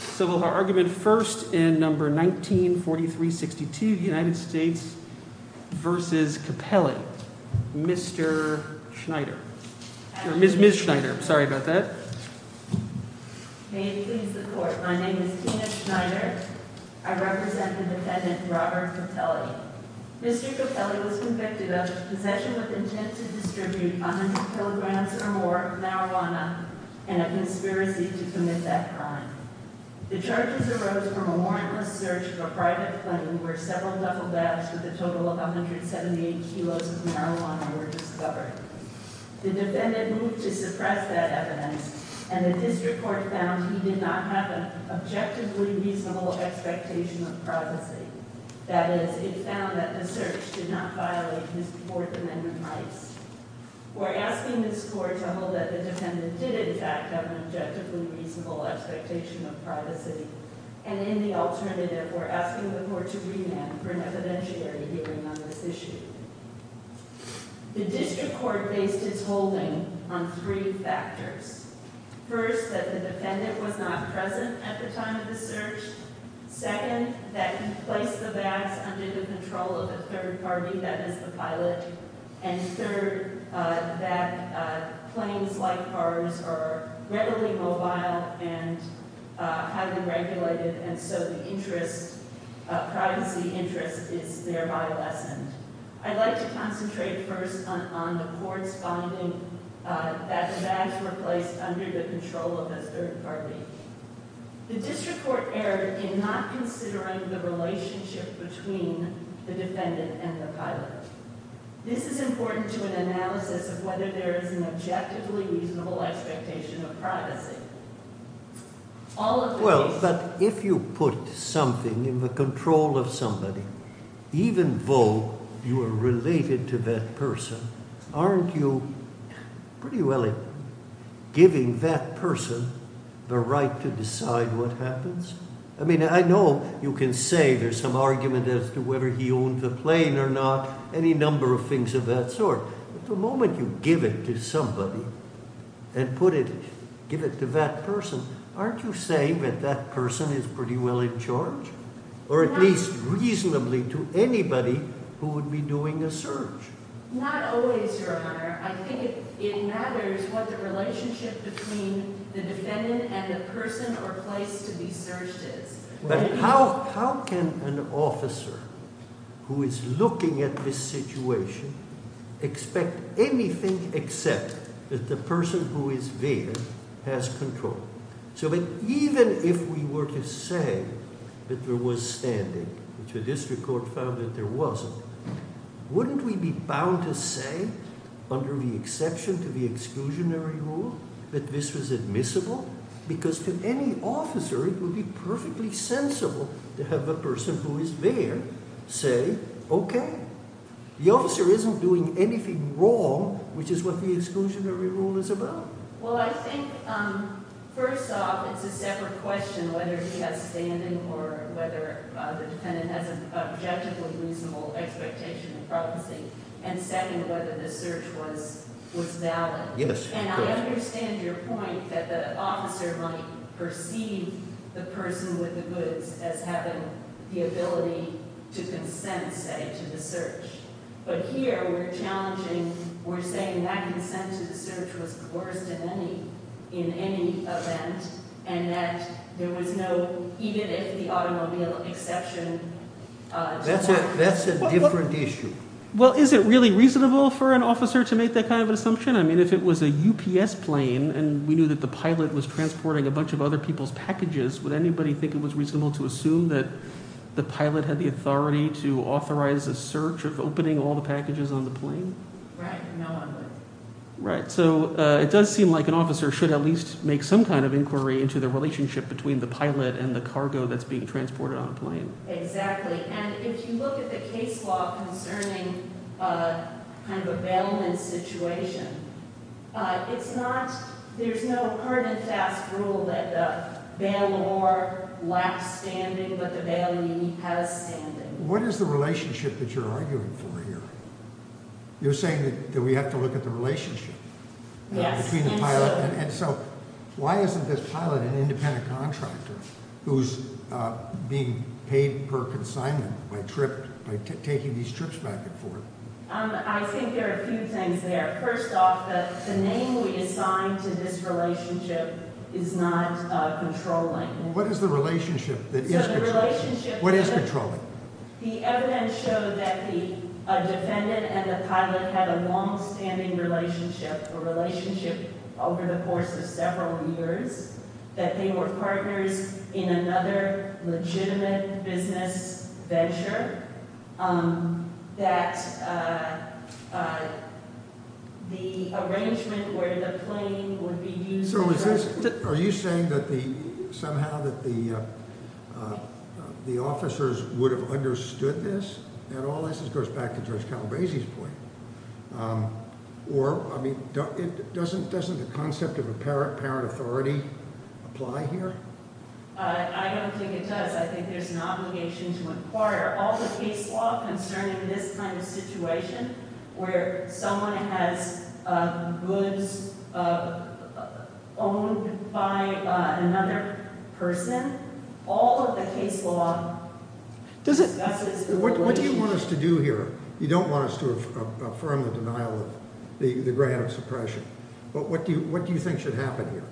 Mr. Capelli was convicted of possession with intent to distribute 100 mg or more of marijuana and a conspiracy to commit that crime. The charges arose from a warrantless search of a private plane where several duffel bags with a total of 178 kilos of marijuana were discovered. The defendant moved to suppress that evidence and the district court found he did not have an objectively reasonable expectation of privacy. That is, it found that the search did not violate his Fourth Amendment rights. We're asking this court to hold that the defendant did in fact have an objectively reasonable expectation of privacy and in the alternative, we're asking the court to remand for an evidentiary hearing on this issue. The district court based its holding on three factors. First, that the defendant was not present at the time of the search. Second, that he placed the bags under the control of a third party, that is, the pilot. And third, that planes like ours are readily mobile and highly regulated and so the privacy interest is thereby lessened. I'd like to concentrate first on the court's finding that the bags were placed under the control of a third party. The district court erred in not considering the relationship between the defendant and the pilot. This is important to an analysis of whether there is an objectively reasonable expectation of privacy. Well, but if you put something in the control of somebody, even though you are related to that person, aren't you pretty well giving that person the right to decide what happens? I mean, I know you can say there's some argument as to whether he owned the plane or not, any number of things of that sort. But the moment you give it to somebody and put it, give it to that person, aren't you saying that that person is pretty well in charge? Or at least reasonably to anybody who would be doing a search? Not always, Your Honor. I think it matters what the relationship between the defendant and the person or place to be searched is. But how can an officer who is looking at this situation expect anything except that the person who is there has control? So even if we were to say that there was standing, which the district court found that there wasn't, wouldn't we be bound to say, under the exception to the exclusionary rule, that this was admissible? Because to any officer it would be perfectly sensible to have the person who is there say, okay. The officer isn't doing anything wrong, which is what the exclusionary rule is about. Well, I think, first off, it's a separate question whether he has standing or whether the defendant has an objectively reasonable expectation of privacy. And second, whether the search was valid. And I understand your point that the officer might perceive the person with the goods as having the ability to consent, say, to the search. But here we're challenging, we're saying that consent to the search was the worst in any event and that there was no, even if the automobile exception to that. That's a different issue. Well, is it really reasonable for an officer to make that kind of assumption? I mean, if it was a UPS plane and we knew that the pilot was transporting a bunch of other people's packages, would anybody think it was reasonable to assume that the pilot had the authority to authorize a search of opening all the packages on the plane? Right. No one would. Right. So it does seem like an officer should at least make some kind of inquiry into the relationship between the pilot and the cargo that's being transported on a plane. Exactly. And if you look at the case law concerning kind of a bailment situation, it's not, there's no hard and fast rule that the bailor lacks standing, but the bailee has standing. What is the relationship that you're arguing for here? You're saying that we have to look at the relationship between the pilot. And so why isn't this pilot an independent contractor who's being paid per consignment by taking these trips back and forth? I think there are a few things there. First off, the name we assigned to this relationship is not controlling. What is the relationship that is controlling? What is controlling? The evidence showed that the defendant and the pilot had a longstanding relationship, a relationship over the course of several years, that they were partners in another legitimate business venture, that the arrangement where the plane would be used. Are you saying that somehow the officers would have understood this? And all this goes back to Judge Calabresi's point. Or, I mean, doesn't the concept of apparent authority apply here? I don't think it does. I think there's an obligation to inquire. All the case law concerning this kind of situation, where someone has goods owned by another person, all of the case law discusses- What do you want us to do here? You don't want us to affirm the denial of the grant of suppression. But what do you think should happen here?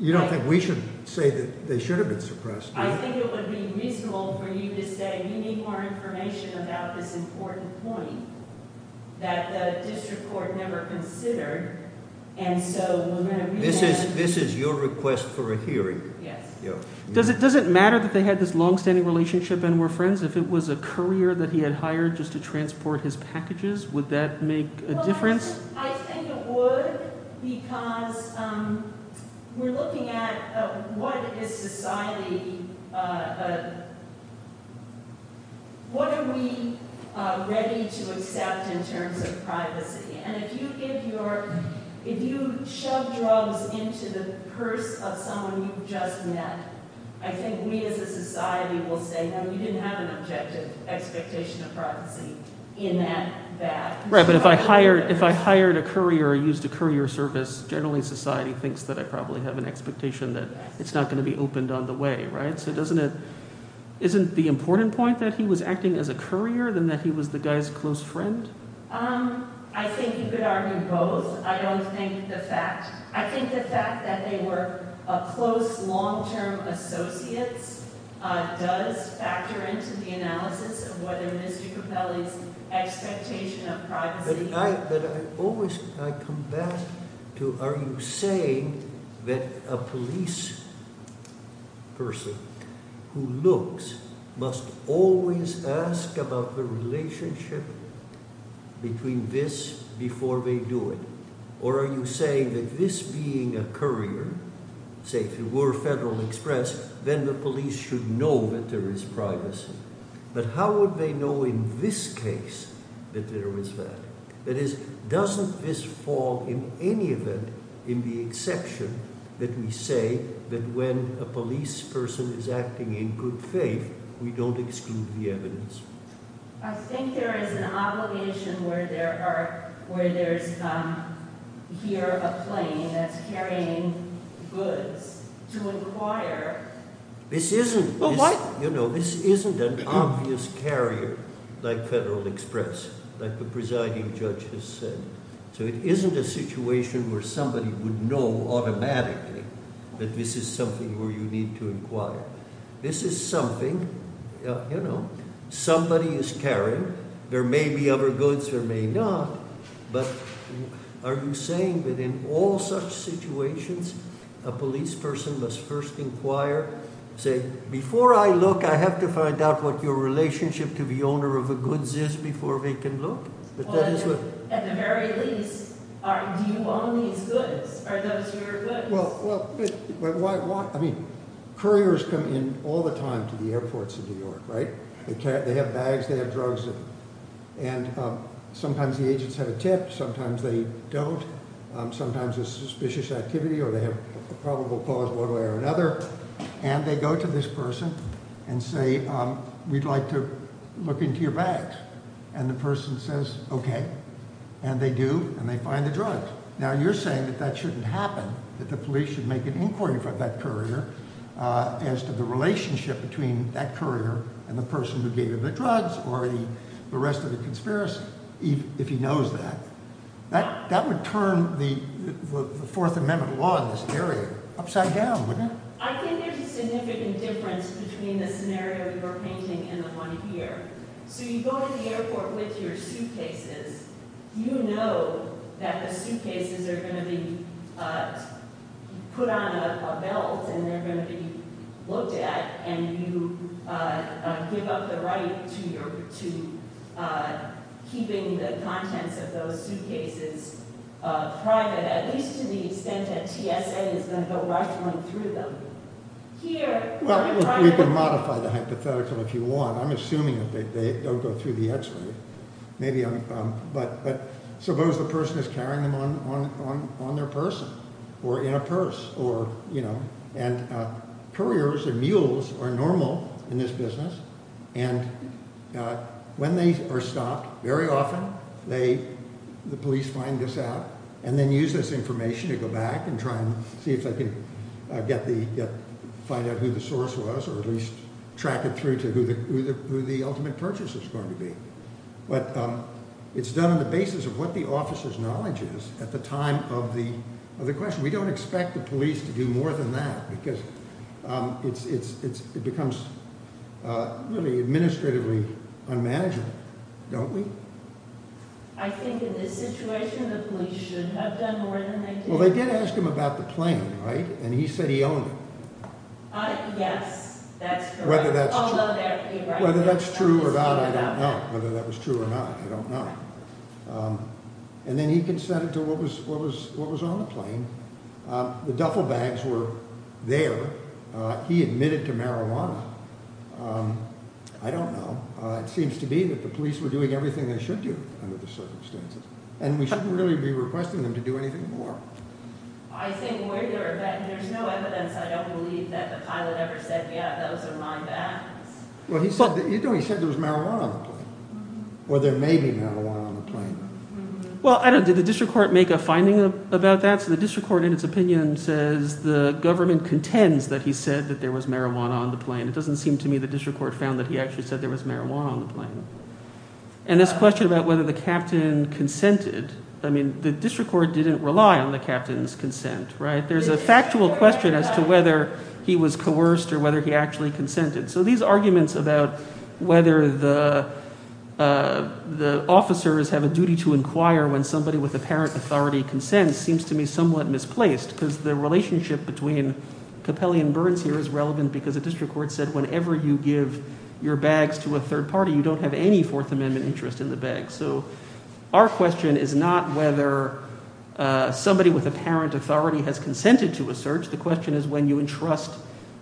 You don't think we should say that they should have been suppressed? I think it would be reasonable for you to say we need more information about this important point that the district court never considered. This is your request for a hearing. Does it matter that they had this longstanding relationship and were friends if it was a career that he had hired just to transport his packages? Would that make a difference? I think it would because we're looking at what is society- what are we ready to accept in terms of privacy? And if you shove drugs into the purse of someone you've just met, I think we as a society will say, no, you didn't have an objective expectation of privacy in that bag. Right, but if I hired a courier or used a courier service, generally society thinks that I probably have an expectation that it's not going to be opened on the way, right? So doesn't it- isn't the important point that he was acting as a courier than that he was the guy's close friend? I think you could argue both. I don't think the fact- I think the fact that they were close long-term associates does factor into the analysis of whether Mr. Capelli's expectation of privacy- But I always- I come back to are you saying that a police person who looks must always ask about the relationship between this before they do it? Or are you saying that this being a courier, say if it were Federal Express, then the police should know that there is privacy? But how would they know in this case that there is that? That is, doesn't this fall in any event in the exception that we say that when a police person is acting in good faith, we don't exclude the evidence? I think there is an obligation where there are- where there's here a plane that's carrying goods to inquire. This isn't an obvious carrier like Federal Express, like the presiding judge has said. So it isn't a situation where somebody would know automatically that this is something where you need to inquire. This is something, you know, somebody is carrying. There may be other goods, there may not. But are you saying that in all such situations, a police person must first inquire, say, before I look, I have to find out what your relationship to the owner of the goods is before they can look? At the very least, do you own these goods? Are those your goods? Well, I mean, couriers come in all the time to the airports in New York, right? They have bags, they have drugs. And sometimes the agents have a tip, sometimes they don't. Sometimes it's a suspicious activity or they have a probable cause one way or another. And they go to this person and say, we'd like to look into your bags. And the person says, okay. And they do, and they find the drugs. Now, you're saying that that shouldn't happen, that the police should make an inquiry from that courier as to the relationship between that courier and the person who gave him the drugs or the rest of the conspiracy, if he knows that. That would turn the Fourth Amendment law in this area upside down, wouldn't it? I think there's a significant difference between the scenario you're painting and the one here. So you go to the airport with your suitcases. You know that the suitcases are going to be put on a belt and they're going to be looked at, and you give up the right to keeping the contents of those suitcases private, at least to the extent that TSA is going to go right through them. Well, we can modify the hypothetical if you want. I'm assuming that they don't go through the X-ray. But suppose the person is carrying them on their person or in a purse. And couriers or mules are normal in this business. And when they are stopped, very often the police find this out and then use this information to go back and try and see if they can find out who the source was or at least track it through to who the ultimate purchase is going to be. But it's done on the basis of what the officer's knowledge is at the time of the question. We don't expect the police to do more than that because it becomes really administratively unmanageable, don't we? I think in this situation the police should have done more than they did. Well, they did ask him about the plane, right? And he said he owned it. Yes, that's correct. Whether that's true or not, I don't know. And then he consented to what was on the plane. The duffel bags were there. He admitted to marijuana. I don't know. It seems to be that the police were doing everything they should do under the circumstances. And we shouldn't really be requesting them to do anything more. I think we're there, but there's no evidence I don't believe that the pilot ever said, yeah, those are my bags. Well, he said there was marijuana on the plane or there may be marijuana on the plane. Well, I don't know. Did the district court make a finding about that? So the district court in its opinion says the government contends that he said that there was marijuana on the plane. It doesn't seem to me the district court found that he actually said there was marijuana on the plane. And this question about whether the captain consented, I mean the district court didn't rely on the captain's consent. There's a factual question as to whether he was coerced or whether he actually consented. So these arguments about whether the officers have a duty to inquire when somebody with apparent authority consents seems to me somewhat misplaced. Because the relationship between Capelli and Burns here is relevant because the district court said whenever you give your bags to a third party, you don't have any Fourth Amendment interest in the bag. So our question is not whether somebody with apparent authority has consented to a search. The question is when you entrust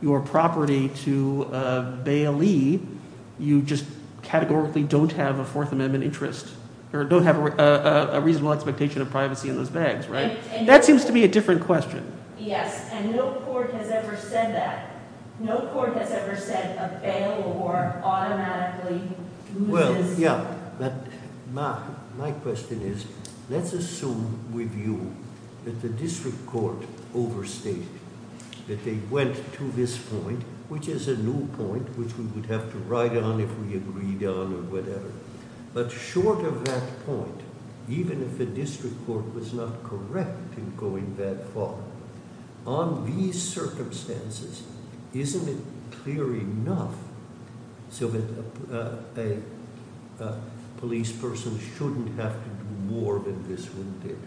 your property to a bailee, you just categorically don't have a Fourth Amendment interest or don't have a reasonable expectation of privacy in those bags. That seems to be a different question. Yes, and no court has ever said that. No court has ever said a bailor automatically loses. My question is let's assume with you that the district court overstated, that they went to this point, which is a new point, which we would have to ride on if we agreed on or whatever. But short of that point, even if the district court was not correct in going that far, on these circumstances, isn't it clear enough so that a police person shouldn't have to do more than this one did?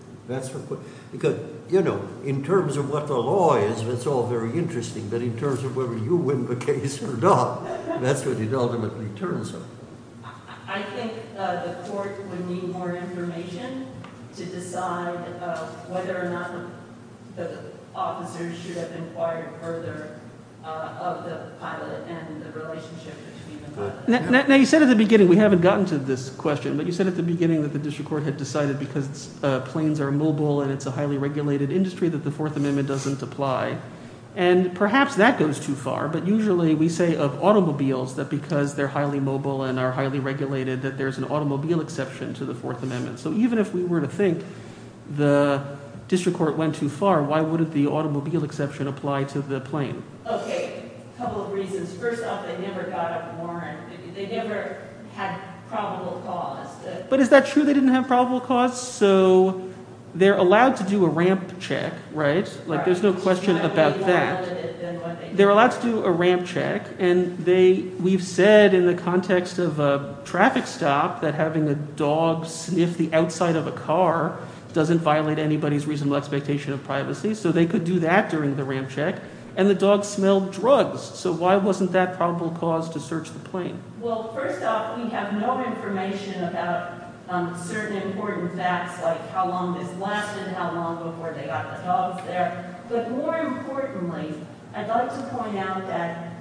Because, you know, in terms of what the law is, it's all very interesting, but in terms of whether you win the case or not, that's what it ultimately turns out. I think the court would need more information to decide whether or not the officers should have inquired further of the pilot and the relationship between the pilot. Now you said at the beginning – we haven't gotten to this question – but you said at the beginning that the district court had decided because planes are mobile and it's a highly regulated industry that the Fourth Amendment doesn't apply. And perhaps that goes too far, but usually we say of automobiles that because they're highly mobile and are highly regulated that there's an automobile exception to the Fourth Amendment. So even if we were to think the district court went too far, why wouldn't the automobile exception apply to the plane? Okay, a couple of reasons. First off, they never got a warrant. They never had probable cause. But is that true they didn't have probable cause? So they're allowed to do a ramp check, right? There's no question about that. They're allowed to do a ramp check, and they – we've said in the context of a traffic stop that having a dog sniff the outside of a car doesn't violate anybody's reasonable expectation of privacy. So they could do that during the ramp check, and the dog smelled drugs. So why wasn't that probable cause to search the plane? Well, first off, we have no information about certain important facts like how long this lasted, how long before they got the dogs there. But more importantly, I'd like to point out that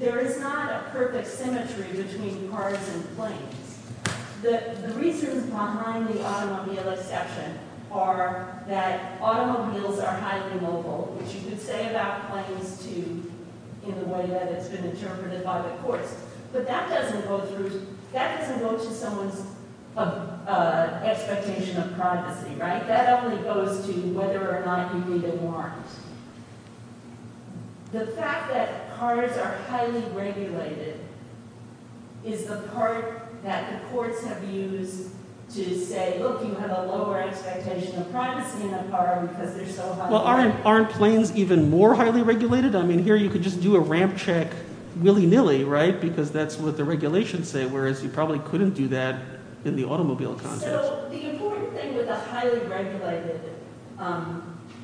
there is not a perfect symmetry between cars and planes. The reasons behind the automobile exception are that automobiles are highly mobile, which you could say about planes, too, in the way that it's been interpreted by the courts. But that doesn't go through – that doesn't go to someone's expectation of privacy, right? That only goes to whether or not you need a warrant. The fact that cars are highly regulated is the part that the courts have used to say, look, you have a lower expectation of privacy in a car because they're so highly regulated. Well, aren't planes even more highly regulated? I mean here you could just do a ramp check willy-nilly because that's what the regulations say, whereas you probably couldn't do that in the automobile context. So the important thing with a highly regulated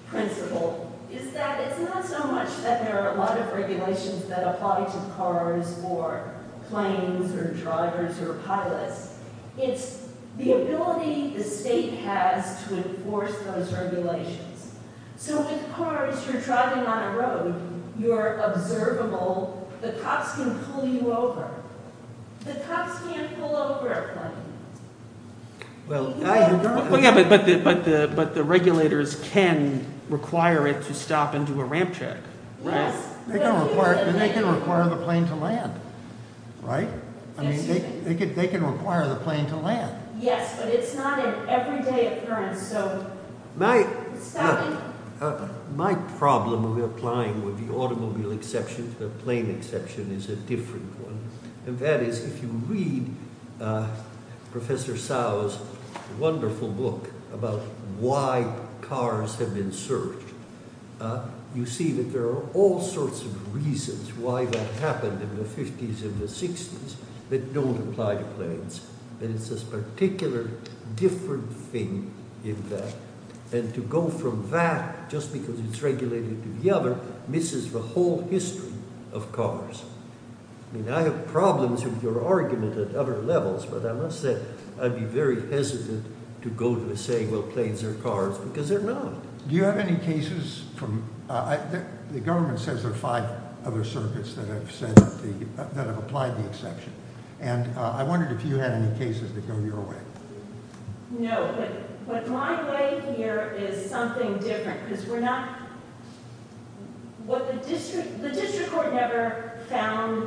principle is that it's not so much that there are a lot of regulations that apply to cars or planes or drivers or pilots. It's the ability the state has to enforce those regulations. So with cars, you're driving on a road. You're observable. The cops can pull you over. The cops can't pull over a plane. Well, yeah, but the regulators can require it to stop and do a ramp check, right? They can require the plane to land, right? I mean they can require the plane to land. Yes, but it's not an everyday occurrence. My problem with applying with the automobile exception to the plane exception is a different one. And that is if you read Professor Cao's wonderful book about why cars have been served, you see that there are all sorts of reasons why that happened in the 50s and the 60s that don't apply to planes. And it's this particular different thing in that. And to go from that just because it's regulated to the other misses the whole history of cars. I mean, I have problems with your argument at other levels, but I must say I'd be very hesitant to go to say, well, planes are cars because they're not. Do you have any cases from the government says there are five other circuits that have said that have applied the exception. And I wondered if you had any cases that go your way. No, but my way here is something different because we're not what the district, the district court never found.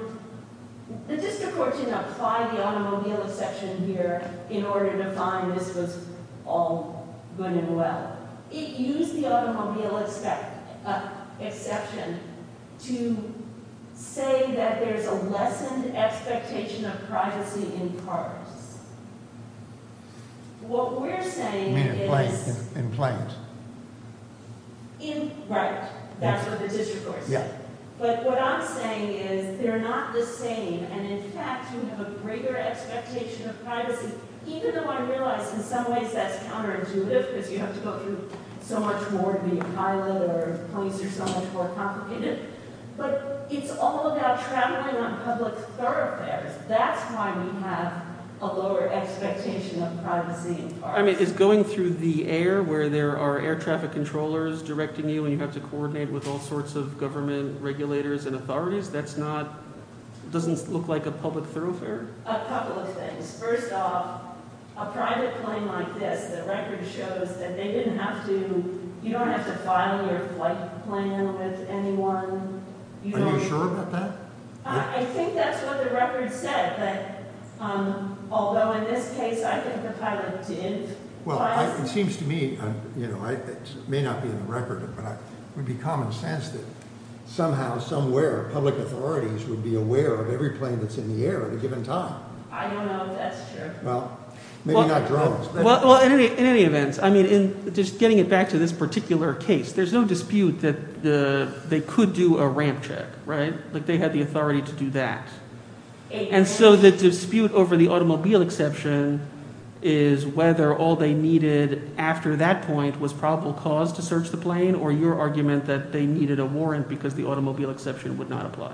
The district court didn't apply the automobile exception here in order to find this was all going well. It used the automobile exception to say that there's a lessened expectation of privacy in cars. What we're saying is. In planes. Right. That's what the district court said. Yeah. But what I'm saying is they're not the same. And in fact, you have a greater expectation of privacy, even though I realize in some ways that's counterintuitive because you have to go through so much more. The pilot or police are so much more complicated. But it's all about traveling on public thoroughfares. That's why we have a lower expectation of privacy. I mean, it's going through the air where there are air traffic controllers directing you and you have to coordinate with all sorts of government regulators and authorities. That's not doesn't look like a public thoroughfare. A couple of things. First off, a private plane like this. The record shows that they didn't have to. You don't have to file your flight plan with anyone. Are you sure about that? I think that's what the record said. Although in this case, I think the pilot did. Well, it seems to me, you know, I may not be in the record, but it would be common sense that somehow, somewhere, public authorities would be aware of every plane that's in the air at a given time. I don't know if that's true. Well, maybe not drones. I mean, just getting it back to this particular case, there's no dispute that they could do a ramp check. Right. They had the authority to do that. And so the dispute over the automobile exception is whether all they needed after that point was probable cause to search the plane or your argument that they needed a warrant because the automobile exception would not apply.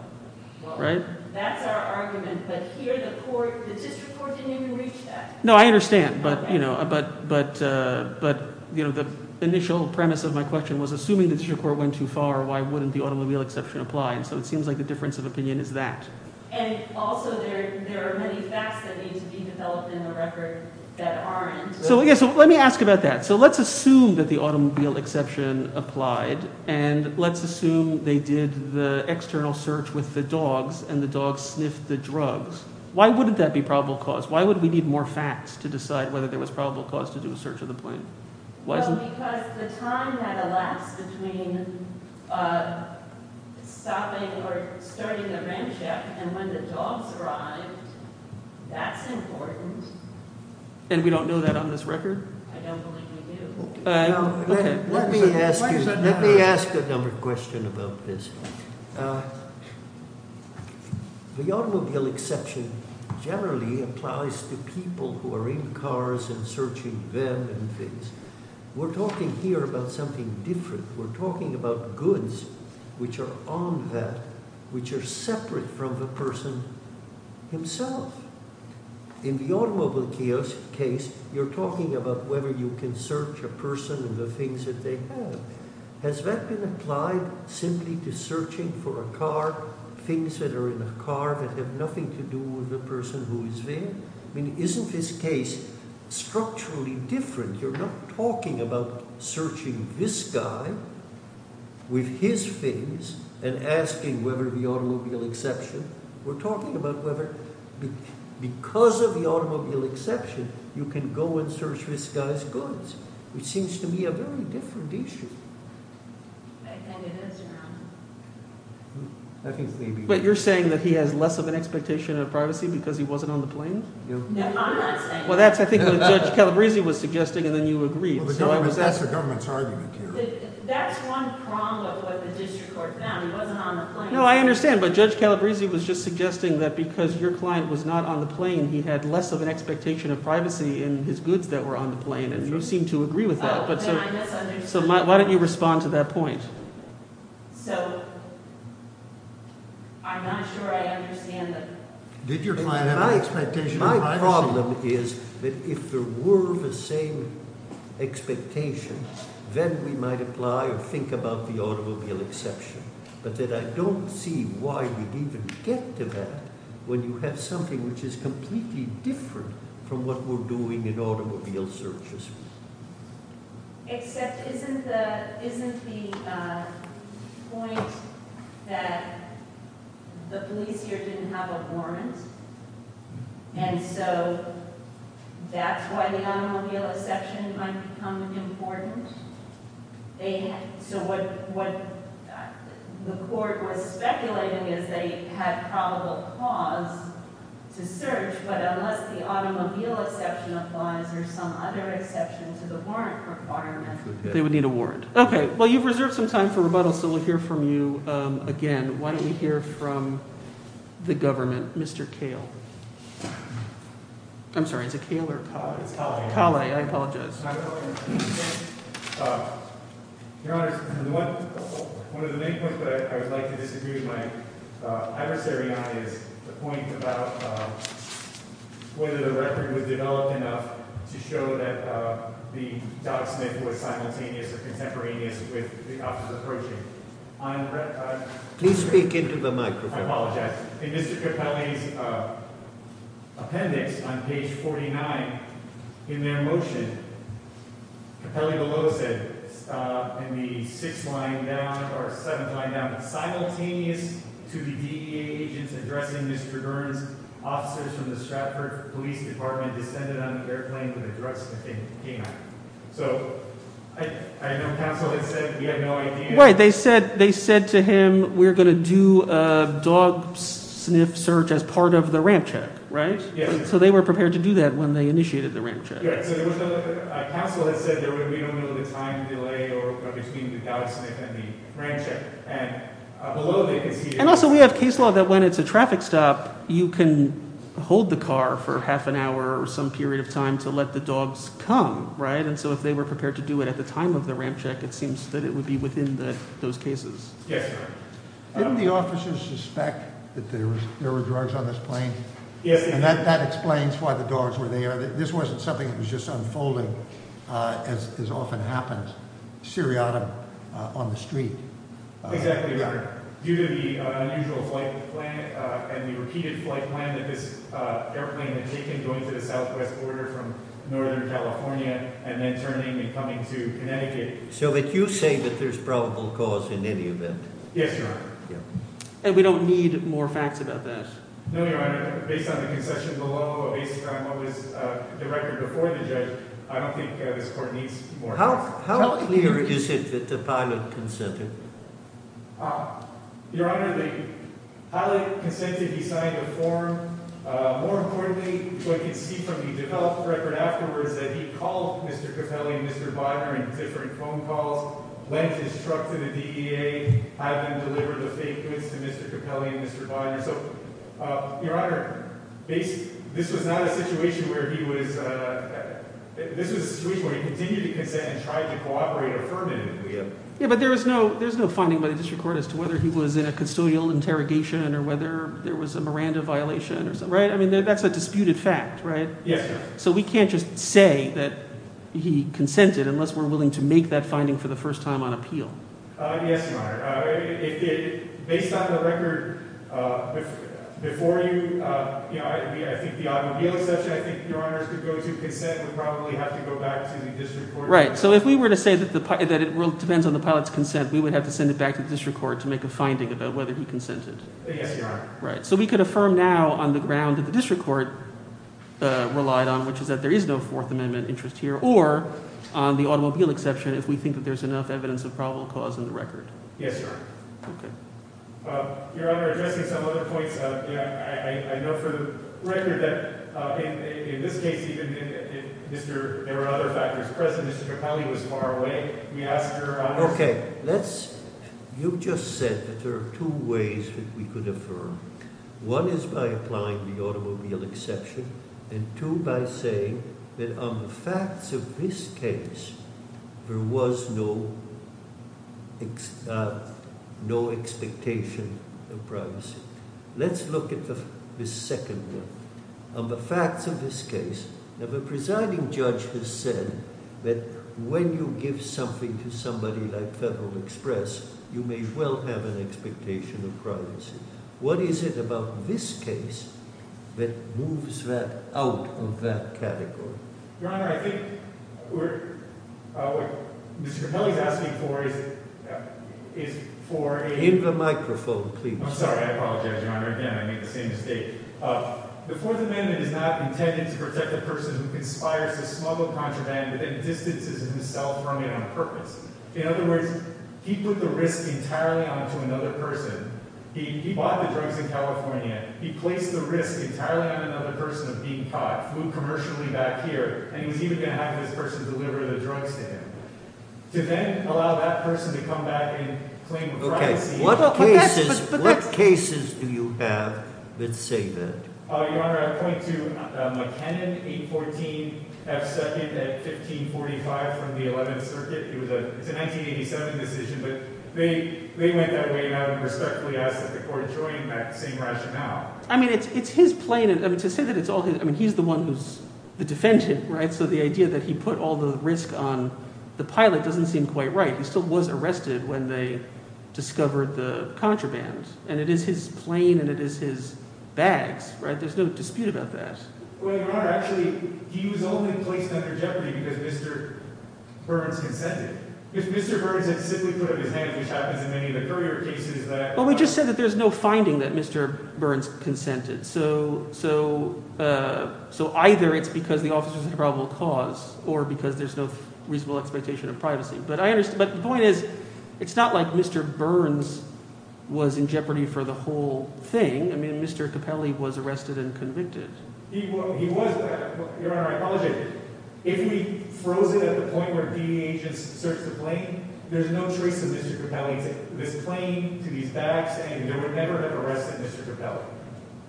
Right. That's our argument. But here the court, the district court didn't even reach that. No, I understand. But, you know, but but but, you know, the initial premise of my question was assuming that your court went too far. Why wouldn't the automobile exception apply? And so it seems like the difference of opinion is that. And also there are many facts that need to be developed in the record that aren't. So, yes. Let me ask about that. So let's assume that the automobile exception applied and let's assume they did the external search with the dogs and the dogs sniffed the drugs. Why wouldn't that be probable cause? Why would we need more facts to decide whether there was probable cause to do a search of the plane? Because the time had elapsed between stopping or starting the ramshackle and when the dogs arrived. That's important. And we don't know that on this record? I don't believe we do. Let me ask another question about this. The automobile exception generally applies to people who are in cars and searching them and things. We're talking here about something different. We're talking about goods which are on that, which are separate from the person himself. In the automobile case, you're talking about whether you can search a person and the things that they have. Has that been applied simply to searching for a car, things that are in a car that have nothing to do with the person who is there? I mean, isn't this case structurally different? You're not talking about searching this guy with his things and asking whether the automobile exception. We're talking about whether because of the automobile exception, you can go and search this guy's goods, which seems to me a very different issue. But you're saying that he has less of an expectation of privacy because he wasn't on the plane? No, I'm not saying that. Well, that's I think what Judge Calabrese was suggesting and then you agreed. That's the government's argument here. That's one prong of what the district court found. He wasn't on the plane. No, I understand. But Judge Calabrese was just suggesting that because your client was not on the plane, he had less of an expectation of privacy in his goods that were on the plane. And you seem to agree with that. So why don't you respond to that point? So I'm not sure I understand that. Did your client have an expectation of privacy? The problem is that if there were the same expectations, then we might apply or think about the automobile exception. But I don't see why we'd even get to that when you have something which is completely different from what we're doing in automobile searches. Except isn't the point that the police here didn't have a warrant and so that's why the automobile exception might become important? So what the court was speculating is they had probable cause to search. But unless the automobile exception applies or some other exception to the warrant requirement, they would need a warrant. OK, well, you've reserved some time for rebuttal, so we'll hear from you again. Why don't we hear from the government? Mr. Kale. I'm sorry. It's a killer. I apologize. Your Honor, one of the main points that I would like to disagree with my adversary on is the point about whether the record was developed enough to show that the document was simultaneous or contemporaneous with the opposite approach. Please speak into the microphone. I apologize. In Mr. Capelli's appendix on page 49, in their motion, Capelli below said in the sixth line down or seventh line down, simultaneous to the DEA agents addressing Mr. Burns, officers from the Stratford Police Department descended on the airplane where the drug smithing came out. So I know counsel had said you had no idea. Right. They said to him, we're going to do a dog sniff search as part of the ramp check. Right. So they were prepared to do that when they initiated the ramp check. Counsel had said there would be no time delay between the dog sniff and the ramp check. And also we have case law that when it's a traffic stop, you can hold the car for half an hour or some period of time to let the dogs come. Right. And so if they were prepared to do it at the time of the ramp check, it seems that it would be within those cases. Yes, sir. Didn't the officers suspect that there were drugs on this plane? Yes. And that explains why the dogs were there. This wasn't something that was just unfolding as often happens. Seriatim on the street. Exactly right. Due to the unusual flight plan and the repeated flight plan that this airplane had taken, going to the southwest border from Northern California and then turning and coming to Connecticut. So that you say that there's probable cause in any event. Yes, Your Honor. And we don't need more facts about this. No, Your Honor. Based on the concession below, based on what was the record before the judge, I don't think this court needs more facts. How clear is it that the pilot consented? Your Honor, the pilot consented. He signed the form. More importantly, we can see from the developed record afterwards that he called Mr. Capelli and Mr. Bonner in different phone calls, lent his truck to the DEA, had them deliver the fake goods to Mr. Capelli and Mr. Bonner. So, Your Honor, this was not a situation where he was – this was a situation where he continued to consent and tried to cooperate affirmatively. Yeah, but there was no finding by the district court as to whether he was in a custodial interrogation or whether there was a Miranda violation or something, right? I mean, that's a disputed fact, right? Yes, sir. So we can't just say that he consented unless we're willing to make that finding for the first time on appeal. Yes, Your Honor. Based on the record before you – I think the automobile exception, I think, Your Honors, could go to consent. It would probably have to go back to the district court. Right. So if we were to say that it depends on the pilot's consent, we would have to send it back to the district court to make a finding about whether he consented. Yes, Your Honor. Right. So we could affirm now on the ground that the district court relied on, which is that there is no Fourth Amendment interest here, or on the automobile exception, if we think that there's enough evidence of probable cause in the record. Yes, Your Honor. Okay. Your Honor, addressing some other points, I know for the record that in this case even if Mr. – there were other factors present, Mr. Capelli was far away. Can we ask Your Honors? Okay. Let's – you just said that there are two ways that we could affirm. One is by applying the automobile exception, and two by saying that on the facts of this case, there was no expectation of privacy. Let's look at the second one. On the facts of this case, now the presiding judge has said that when you give something to somebody like Federal Express, you may well have an expectation of privacy. What is it about this case that moves that out of that category? Your Honor, I think we're – what Mr. Capelli is asking for is for a – Give the microphone, please. I'm sorry. I apologize, Your Honor. Again, I made the same mistake. The Fourth Amendment is not intended to protect a person who conspires to smuggle contraband within distances of himself from you on purpose. In other words, he put the risk entirely onto another person. He bought the drugs in California. He placed the risk entirely on another person of being caught, flew commercially back here, and he was even going to have this person deliver the drugs to him. To then allow that person to come back and claim privacy. What cases do you have that say that? Your Honor, I point to McKinnon 814 F. 2nd at 1545 from the 11th Circuit. It's a 1987 decision, but they went that way and I would respectfully ask that the court join that same rationale. I mean it's his plane – to say that it's all his – I mean he's the one who's the defendant, so the idea that he put all the risk on the pilot doesn't seem quite right. He still was arrested when they discovered the contraband, and it is his plane and it is his bags. There's no dispute about that. Well, Your Honor, actually he was only placed under jeopardy because Mr. Burns consented. If Mr. Burns had simply put up his hand, which happens in many of the courier cases that – Well, we just said that there's no finding that Mr. Burns consented, so either it's because the officer's a probable cause or because there's no reasonable expectation of privacy. But the point is it's not like Mr. Burns was in jeopardy for the whole thing. I mean Mr. Capelli was arrested and convicted. He was. Your Honor, I apologize. If we froze it at the point where the agents searched the plane, there's no trace of Mr. Capelli's claim to these bags, and they would never have arrested Mr. Capelli.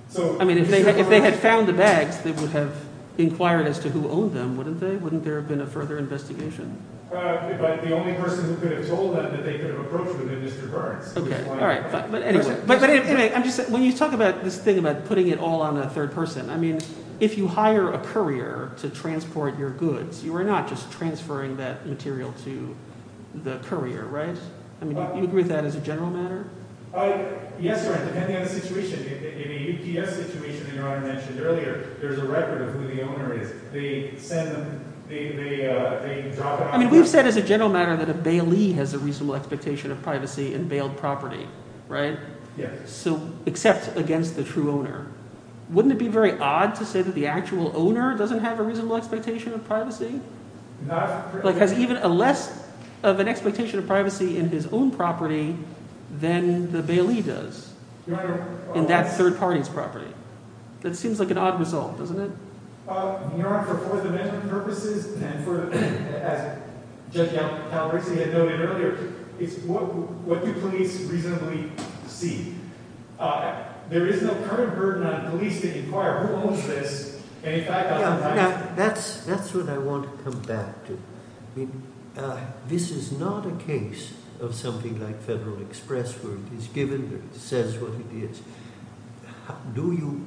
So – I mean if they had found the bags, they would have inquired as to who owned them, wouldn't they? Wouldn't there have been a further investigation? But the only person who could have told them that they could have approached them had been Mr. Burns. But anyway, I'm just – when you talk about this thing about putting it all on a third person, I mean if you hire a courier to transport your goods, you are not just transferring that material to the courier, right? I mean do you agree with that as a general matter? Yes, Your Honor, depending on the situation. In the UPS situation that Your Honor mentioned earlier, there's a record of who the owner is. They send them – they drop them off. I mean we've said as a general matter that a bailee has a reasonable expectation of privacy in bailed property, right? Yes. So – except against the true owner. Wouldn't it be very odd to say that the actual owner doesn't have a reasonable expectation of privacy? Not – Like has even less of an expectation of privacy in his own property than the bailee does in that third party's property. That seems like an odd result, doesn't it? Your Honor, for four-dimensional purposes and for – as Judge Calarissi had noted earlier, it's what do police reasonably see? There is no current burden on police to inquire who owns this and in fact – That's what I want to come back to. I mean this is not a case of something like Federal Express where it is given that it says what it is. Do you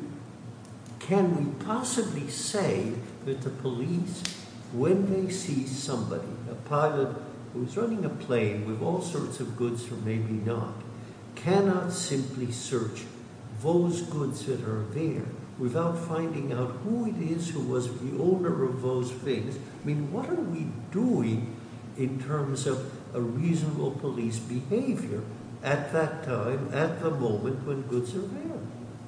– can we possibly say that the police, when they see somebody, a pilot who's running a plane with all sorts of goods or maybe not, cannot simply search those goods that are there without finding out who it is who was the owner of those things? I mean what are we doing in terms of a reasonable police behavior at that time, at the moment when goods are there?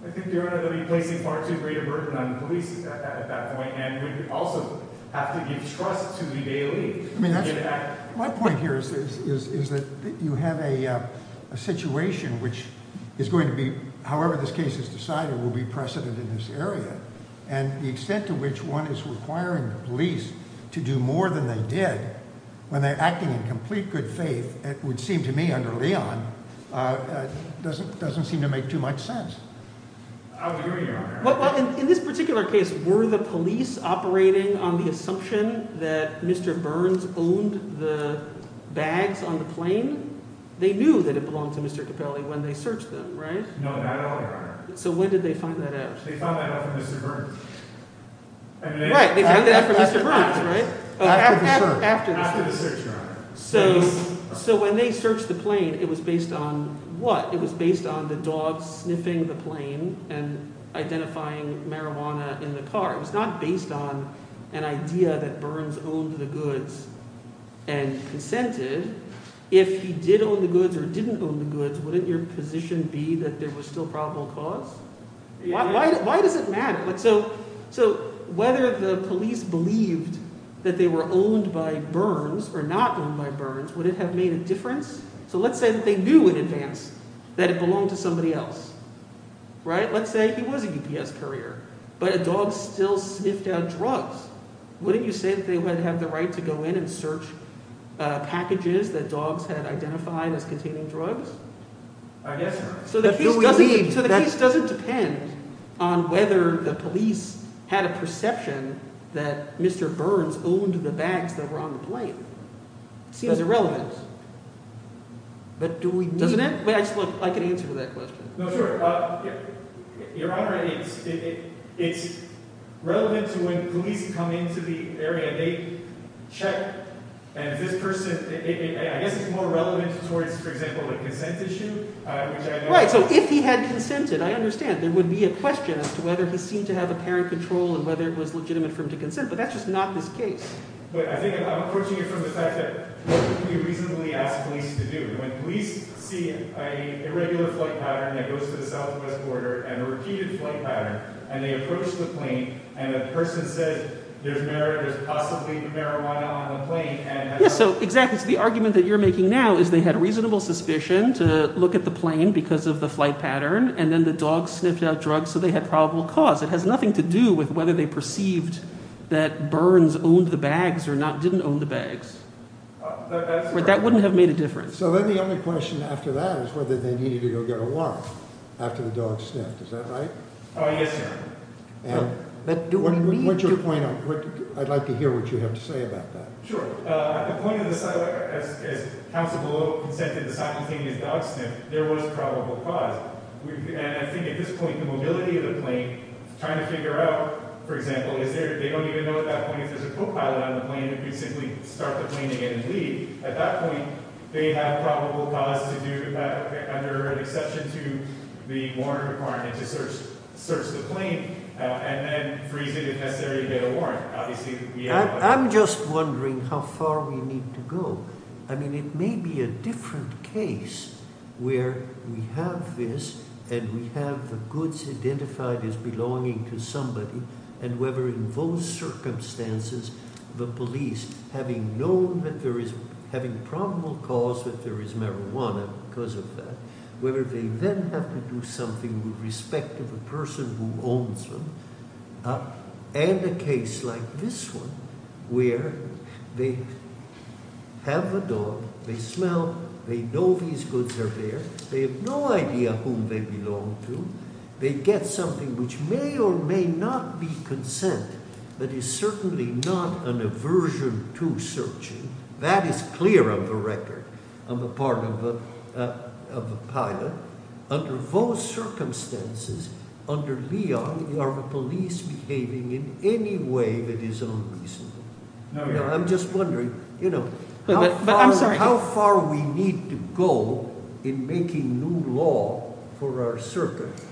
I think, Your Honor, that we're placing far too great a burden on the police at that point and we also have to give trust to the bailee. I mean that's – my point here is that you have a situation which is going to be, however this case is decided, will be precedent in this area and the extent to which one is requiring the police to do more than they did when they're acting in complete good faith, it would seem to me under Leon, doesn't seem to make too much sense. In this particular case, were the police operating on the assumption that Mr. Burns owned the bags on the plane? They knew that it belonged to Mr. Capelli when they searched them, right? No, not at all, Your Honor. So when did they find that out? They found that out from Mr. Burns. Right. They found that out from Mr. Burns, right? After the search, Your Honor. So when they searched the plane, it was based on what? It was based on the dogs sniffing the plane and identifying marijuana in the car. It was not based on an idea that Burns owned the goods and consented. If he did own the goods or didn't own the goods, wouldn't your position be that there was still probable cause? Why does it matter? So whether the police believed that they were owned by Burns or not owned by Burns, would it have made a difference? So let's say that they knew in advance that it belonged to somebody else, right? Let's say he was a UPS courier, but a dog still sniffed out drugs. Wouldn't you say that they would have the right to go in and search packages that dogs had identified as containing drugs? I guess so. So the case doesn't depend on whether the police had a perception that Mr. Burns owned the bags that were on the plane. It seems irrelevant. But do we need – Doesn't it? Wait, I can answer that question. No, sure. Your Honor, it's relevant to when police come into the area, they check, and if this person – I guess it's more relevant towards, for example, a consent issue. Right, so if he had consented, I understand. There would be a question as to whether he seemed to have apparent control and whether it was legitimate for him to consent. But that's just not this case. But I think I'm approaching it from the fact that what could we reasonably ask police to do? When police see an irregular flight pattern that goes to the southwest border and a repeated flight pattern, and they approach the plane, and the person says there's possibly marijuana on the plane – Yes, so exactly. So the argument that you're making now is they had reasonable suspicion to look at the plane because of the flight pattern, and then the dog sniffed out drugs, so they had probable cause. It has nothing to do with whether they perceived that Burns owned the bags or not – didn't own the bags. That's correct. That wouldn't have made a difference. So then the only question after that is whether they needed to go get a warrant after the dog sniffed. Is that right? Yes, Your Honor. What's your point on – I'd like to hear what you have to say about that. Sure. At the point of the – as counsel below consented to the simultaneous dog sniff, there was probable cause. And I think at this point the mobility of the plane, trying to figure out, for example, is there – they don't even know at that point if there's a co-pilot on the plane who could simply start the plane again and leave. At that point, they have probable cause to do, under an exception to the warrant requirement, to search the plane and then, for easy, if necessary, to get a warrant. I'm just wondering how far we need to go. I mean it may be a different case where we have this and we have the goods identified as belonging to somebody and whether in those circumstances the police, having known that there is – having probable cause that there is marijuana because of that, whether they then have to do something with respect to the person who owns them and a case like this one where they have a dog, they smell, they know these goods are there, they have no idea whom they belong to, they get something which may or may not be consent that is certainly not an aversion to searching. That is clear on the record on the part of the pilot. Under those circumstances, under Leon, are the police behaving in any way that is unreasonable? I'm just wondering how far we need to go in making new law for our circuit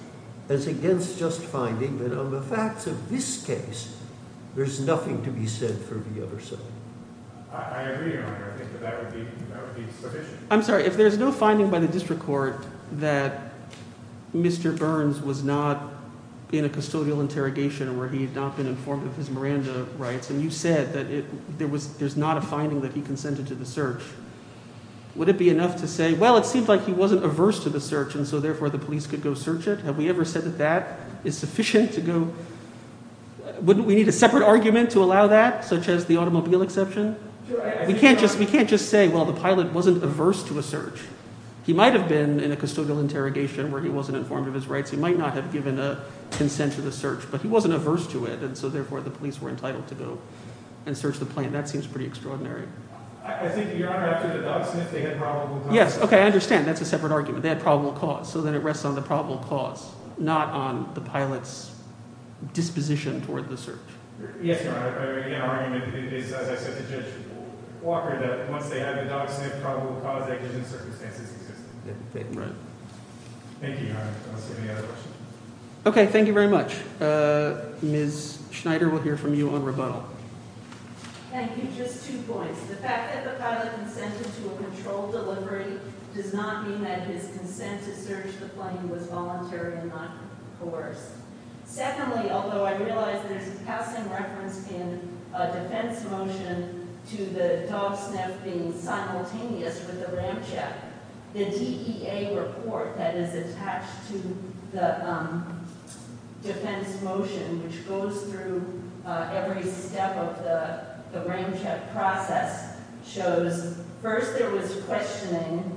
as against just finding that on the facts of this case, there's nothing to be said for the other side. I agree, Your Honor. I think that would be sufficient. I'm sorry. If there's no finding by the district court that Mr. Burns was not in a custodial interrogation where he had not been informed of his Miranda rights and you said that there's not a finding that he consented to the search, would it be enough to say, well, it seems like he wasn't averse to the search and so therefore the police could go search it? Have we ever said that that is sufficient to go – wouldn't we need a separate argument to allow that such as the automobile exception? We can't just say, well, the pilot wasn't averse to a search. He might have been in a custodial interrogation where he wasn't informed of his rights. He might not have given a consent to the search, but he wasn't averse to it, and so therefore the police were entitled to go and search the plane. That seems pretty extraordinary. I think, Your Honor, after the dog sniff, they had probable cause. Yes, okay, I understand. That's a separate argument. They had probable cause, so then it rests on the probable cause, not on the pilot's disposition toward the search. Yes, Your Honor, if I may make an argument, it is, as I said to Judge Walker, that once they had the dog sniff, probable cause, that is in circumstances existing. Right. Thank you, Your Honor. I don't see any other questions. Okay, thank you very much. Ms. Schneider, we'll hear from you on rebuttal. Thank you. Just two points. The fact that the pilot consented to a controlled delivery does not mean that his consent to search the plane was voluntary and not coerced. Secondly, although I realize there's a passing reference in a defense motion to the dog sniff being simultaneous with the ram check, the DEA report that is attached to the defense motion, which goes through every step of the ram check process, shows first there was questioning.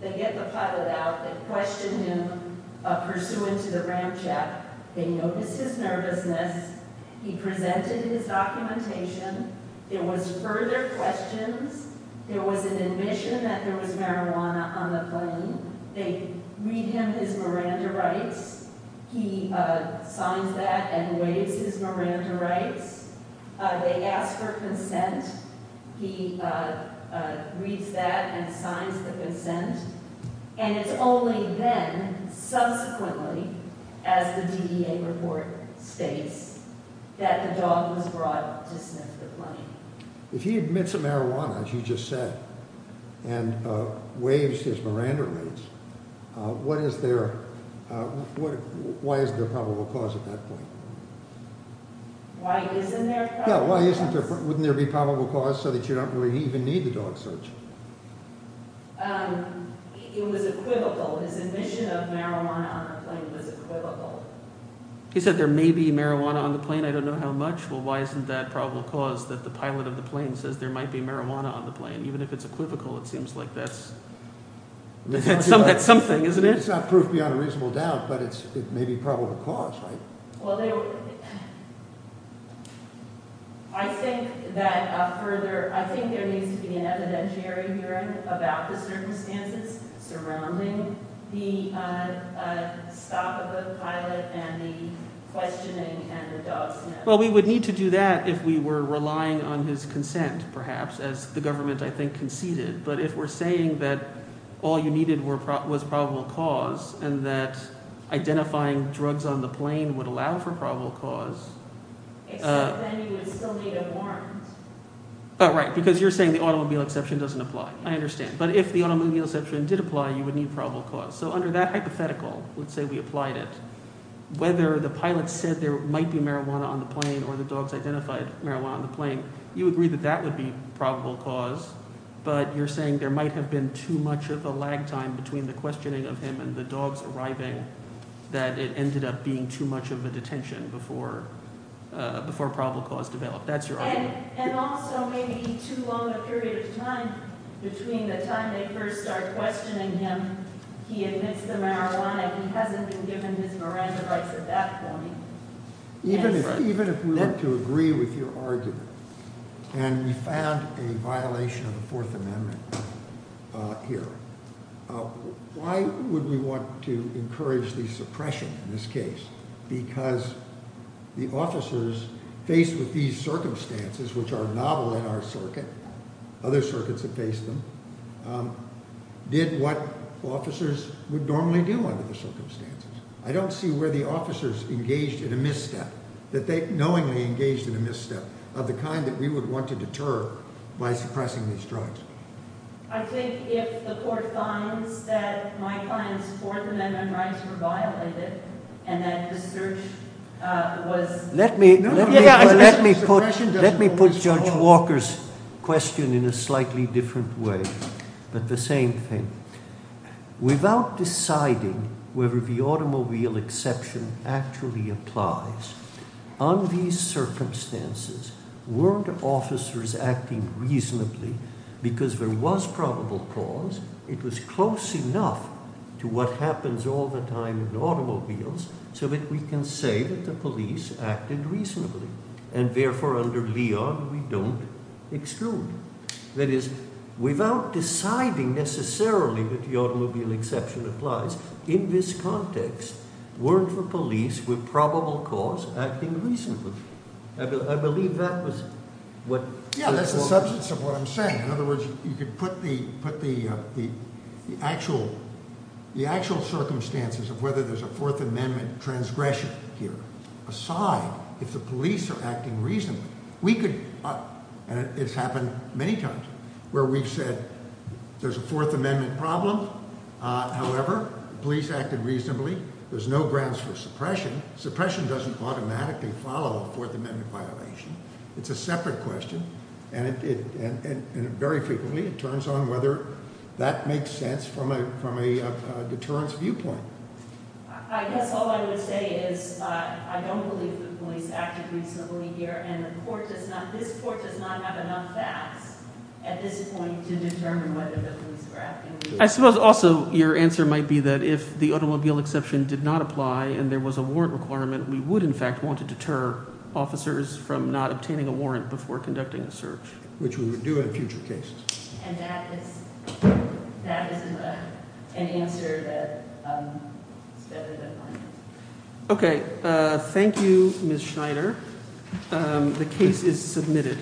They get the pilot out. They question him pursuant to the ram check. They notice his nervousness. He presented his documentation. There was further questions. There was an admission that there was marijuana on the plane. They read him his Miranda rights. He signs that and waives his Miranda rights. They ask for consent. He reads that and signs the consent. And it's only then, subsequently, as the DEA report states, that the dog was brought to sniff the plane. If he admits to marijuana, as you just said, and waives his Miranda rights, what is their – why isn't there probable cause at that point? Why isn't there probable cause? Yeah, why isn't there – wouldn't there be probable cause so that you don't really even need the dog search? It was equivocal. His admission of marijuana on the plane was equivocal. He said there may be marijuana on the plane. I don't know how much. Well, why isn't that probable cause that the pilot of the plane says there might be marijuana on the plane? Even if it's equivocal, it seems like that's something, isn't it? It's not proof beyond a reasonable doubt, but it may be probable cause, right? Well, there – I think that further – I think there needs to be an evidentiary hearing about the circumstances surrounding the stop of the pilot and the questioning and the dog sniffing. Well, we would need to do that if we were relying on his consent perhaps, as the government I think conceded. But if we're saying that all you needed was probable cause and that identifying drugs on the plane would allow for probable cause… Except then you would still need a warrant. Right, because you're saying the automobile exception doesn't apply. I understand. But if the automobile exception did apply, you would need probable cause. So under that hypothetical, let's say we applied it, whether the pilot said there might be marijuana on the plane or the dogs identified marijuana on the plane, you agree that that would be probable cause. But you're saying there might have been too much of a lag time between the questioning of him and the dogs arriving that it ended up being too much of a detention before probable cause developed. That's your argument. And also maybe too long a period of time between the time they first start questioning him, he admits the marijuana, he hasn't been given his Miranda rights at that point. Even if we were to agree with your argument and we found a violation of the Fourth Amendment here, why would we want to encourage the suppression in this case? Because the officers faced with these circumstances, which are novel in our circuit, other circuits have faced them, did what officers would normally do under the circumstances. I don't see where the officers engaged in a misstep, that they knowingly engaged in a misstep of the kind that we would want to deter by suppressing these drugs. I think if the court finds that my client's Fourth Amendment rights were violated and that the search was- Let me put Judge Walker's question in a slightly different way, but the same thing. Without deciding whether the automobile exception actually applies, on these circumstances, weren't officers acting reasonably because there was probable cause? It was close enough to what happens all the time in automobiles so that we can say that the police acted reasonably. And therefore, under Leon, we don't exclude. That is, without deciding necessarily that the automobile exception applies, in this context, weren't the police with probable cause acting reasonably? I believe that was what- Yeah, that's the substance of what I'm saying. In other words, you could put the actual circumstances of whether there's a Fourth Amendment transgression here aside if the police are acting reasonably. And it's happened many times where we've said there's a Fourth Amendment problem. However, police acted reasonably. There's no grounds for suppression. Suppression doesn't automatically follow a Fourth Amendment violation. It's a separate question. And very frequently, it turns on whether that makes sense from a deterrence viewpoint. I guess all I would say is I don't believe the police acted reasonably here, and this court does not have enough facts at this point to determine whether the police were acting reasonably. I suppose also your answer might be that if the automobile exception did not apply and there was a warrant requirement, we would, in fact, want to deter officers from not obtaining a warrant before conducting a search. Which we would do in future cases. And that is an answer that is better than mine. Okay. Thank you, Ms. Schneider. The case is submitted.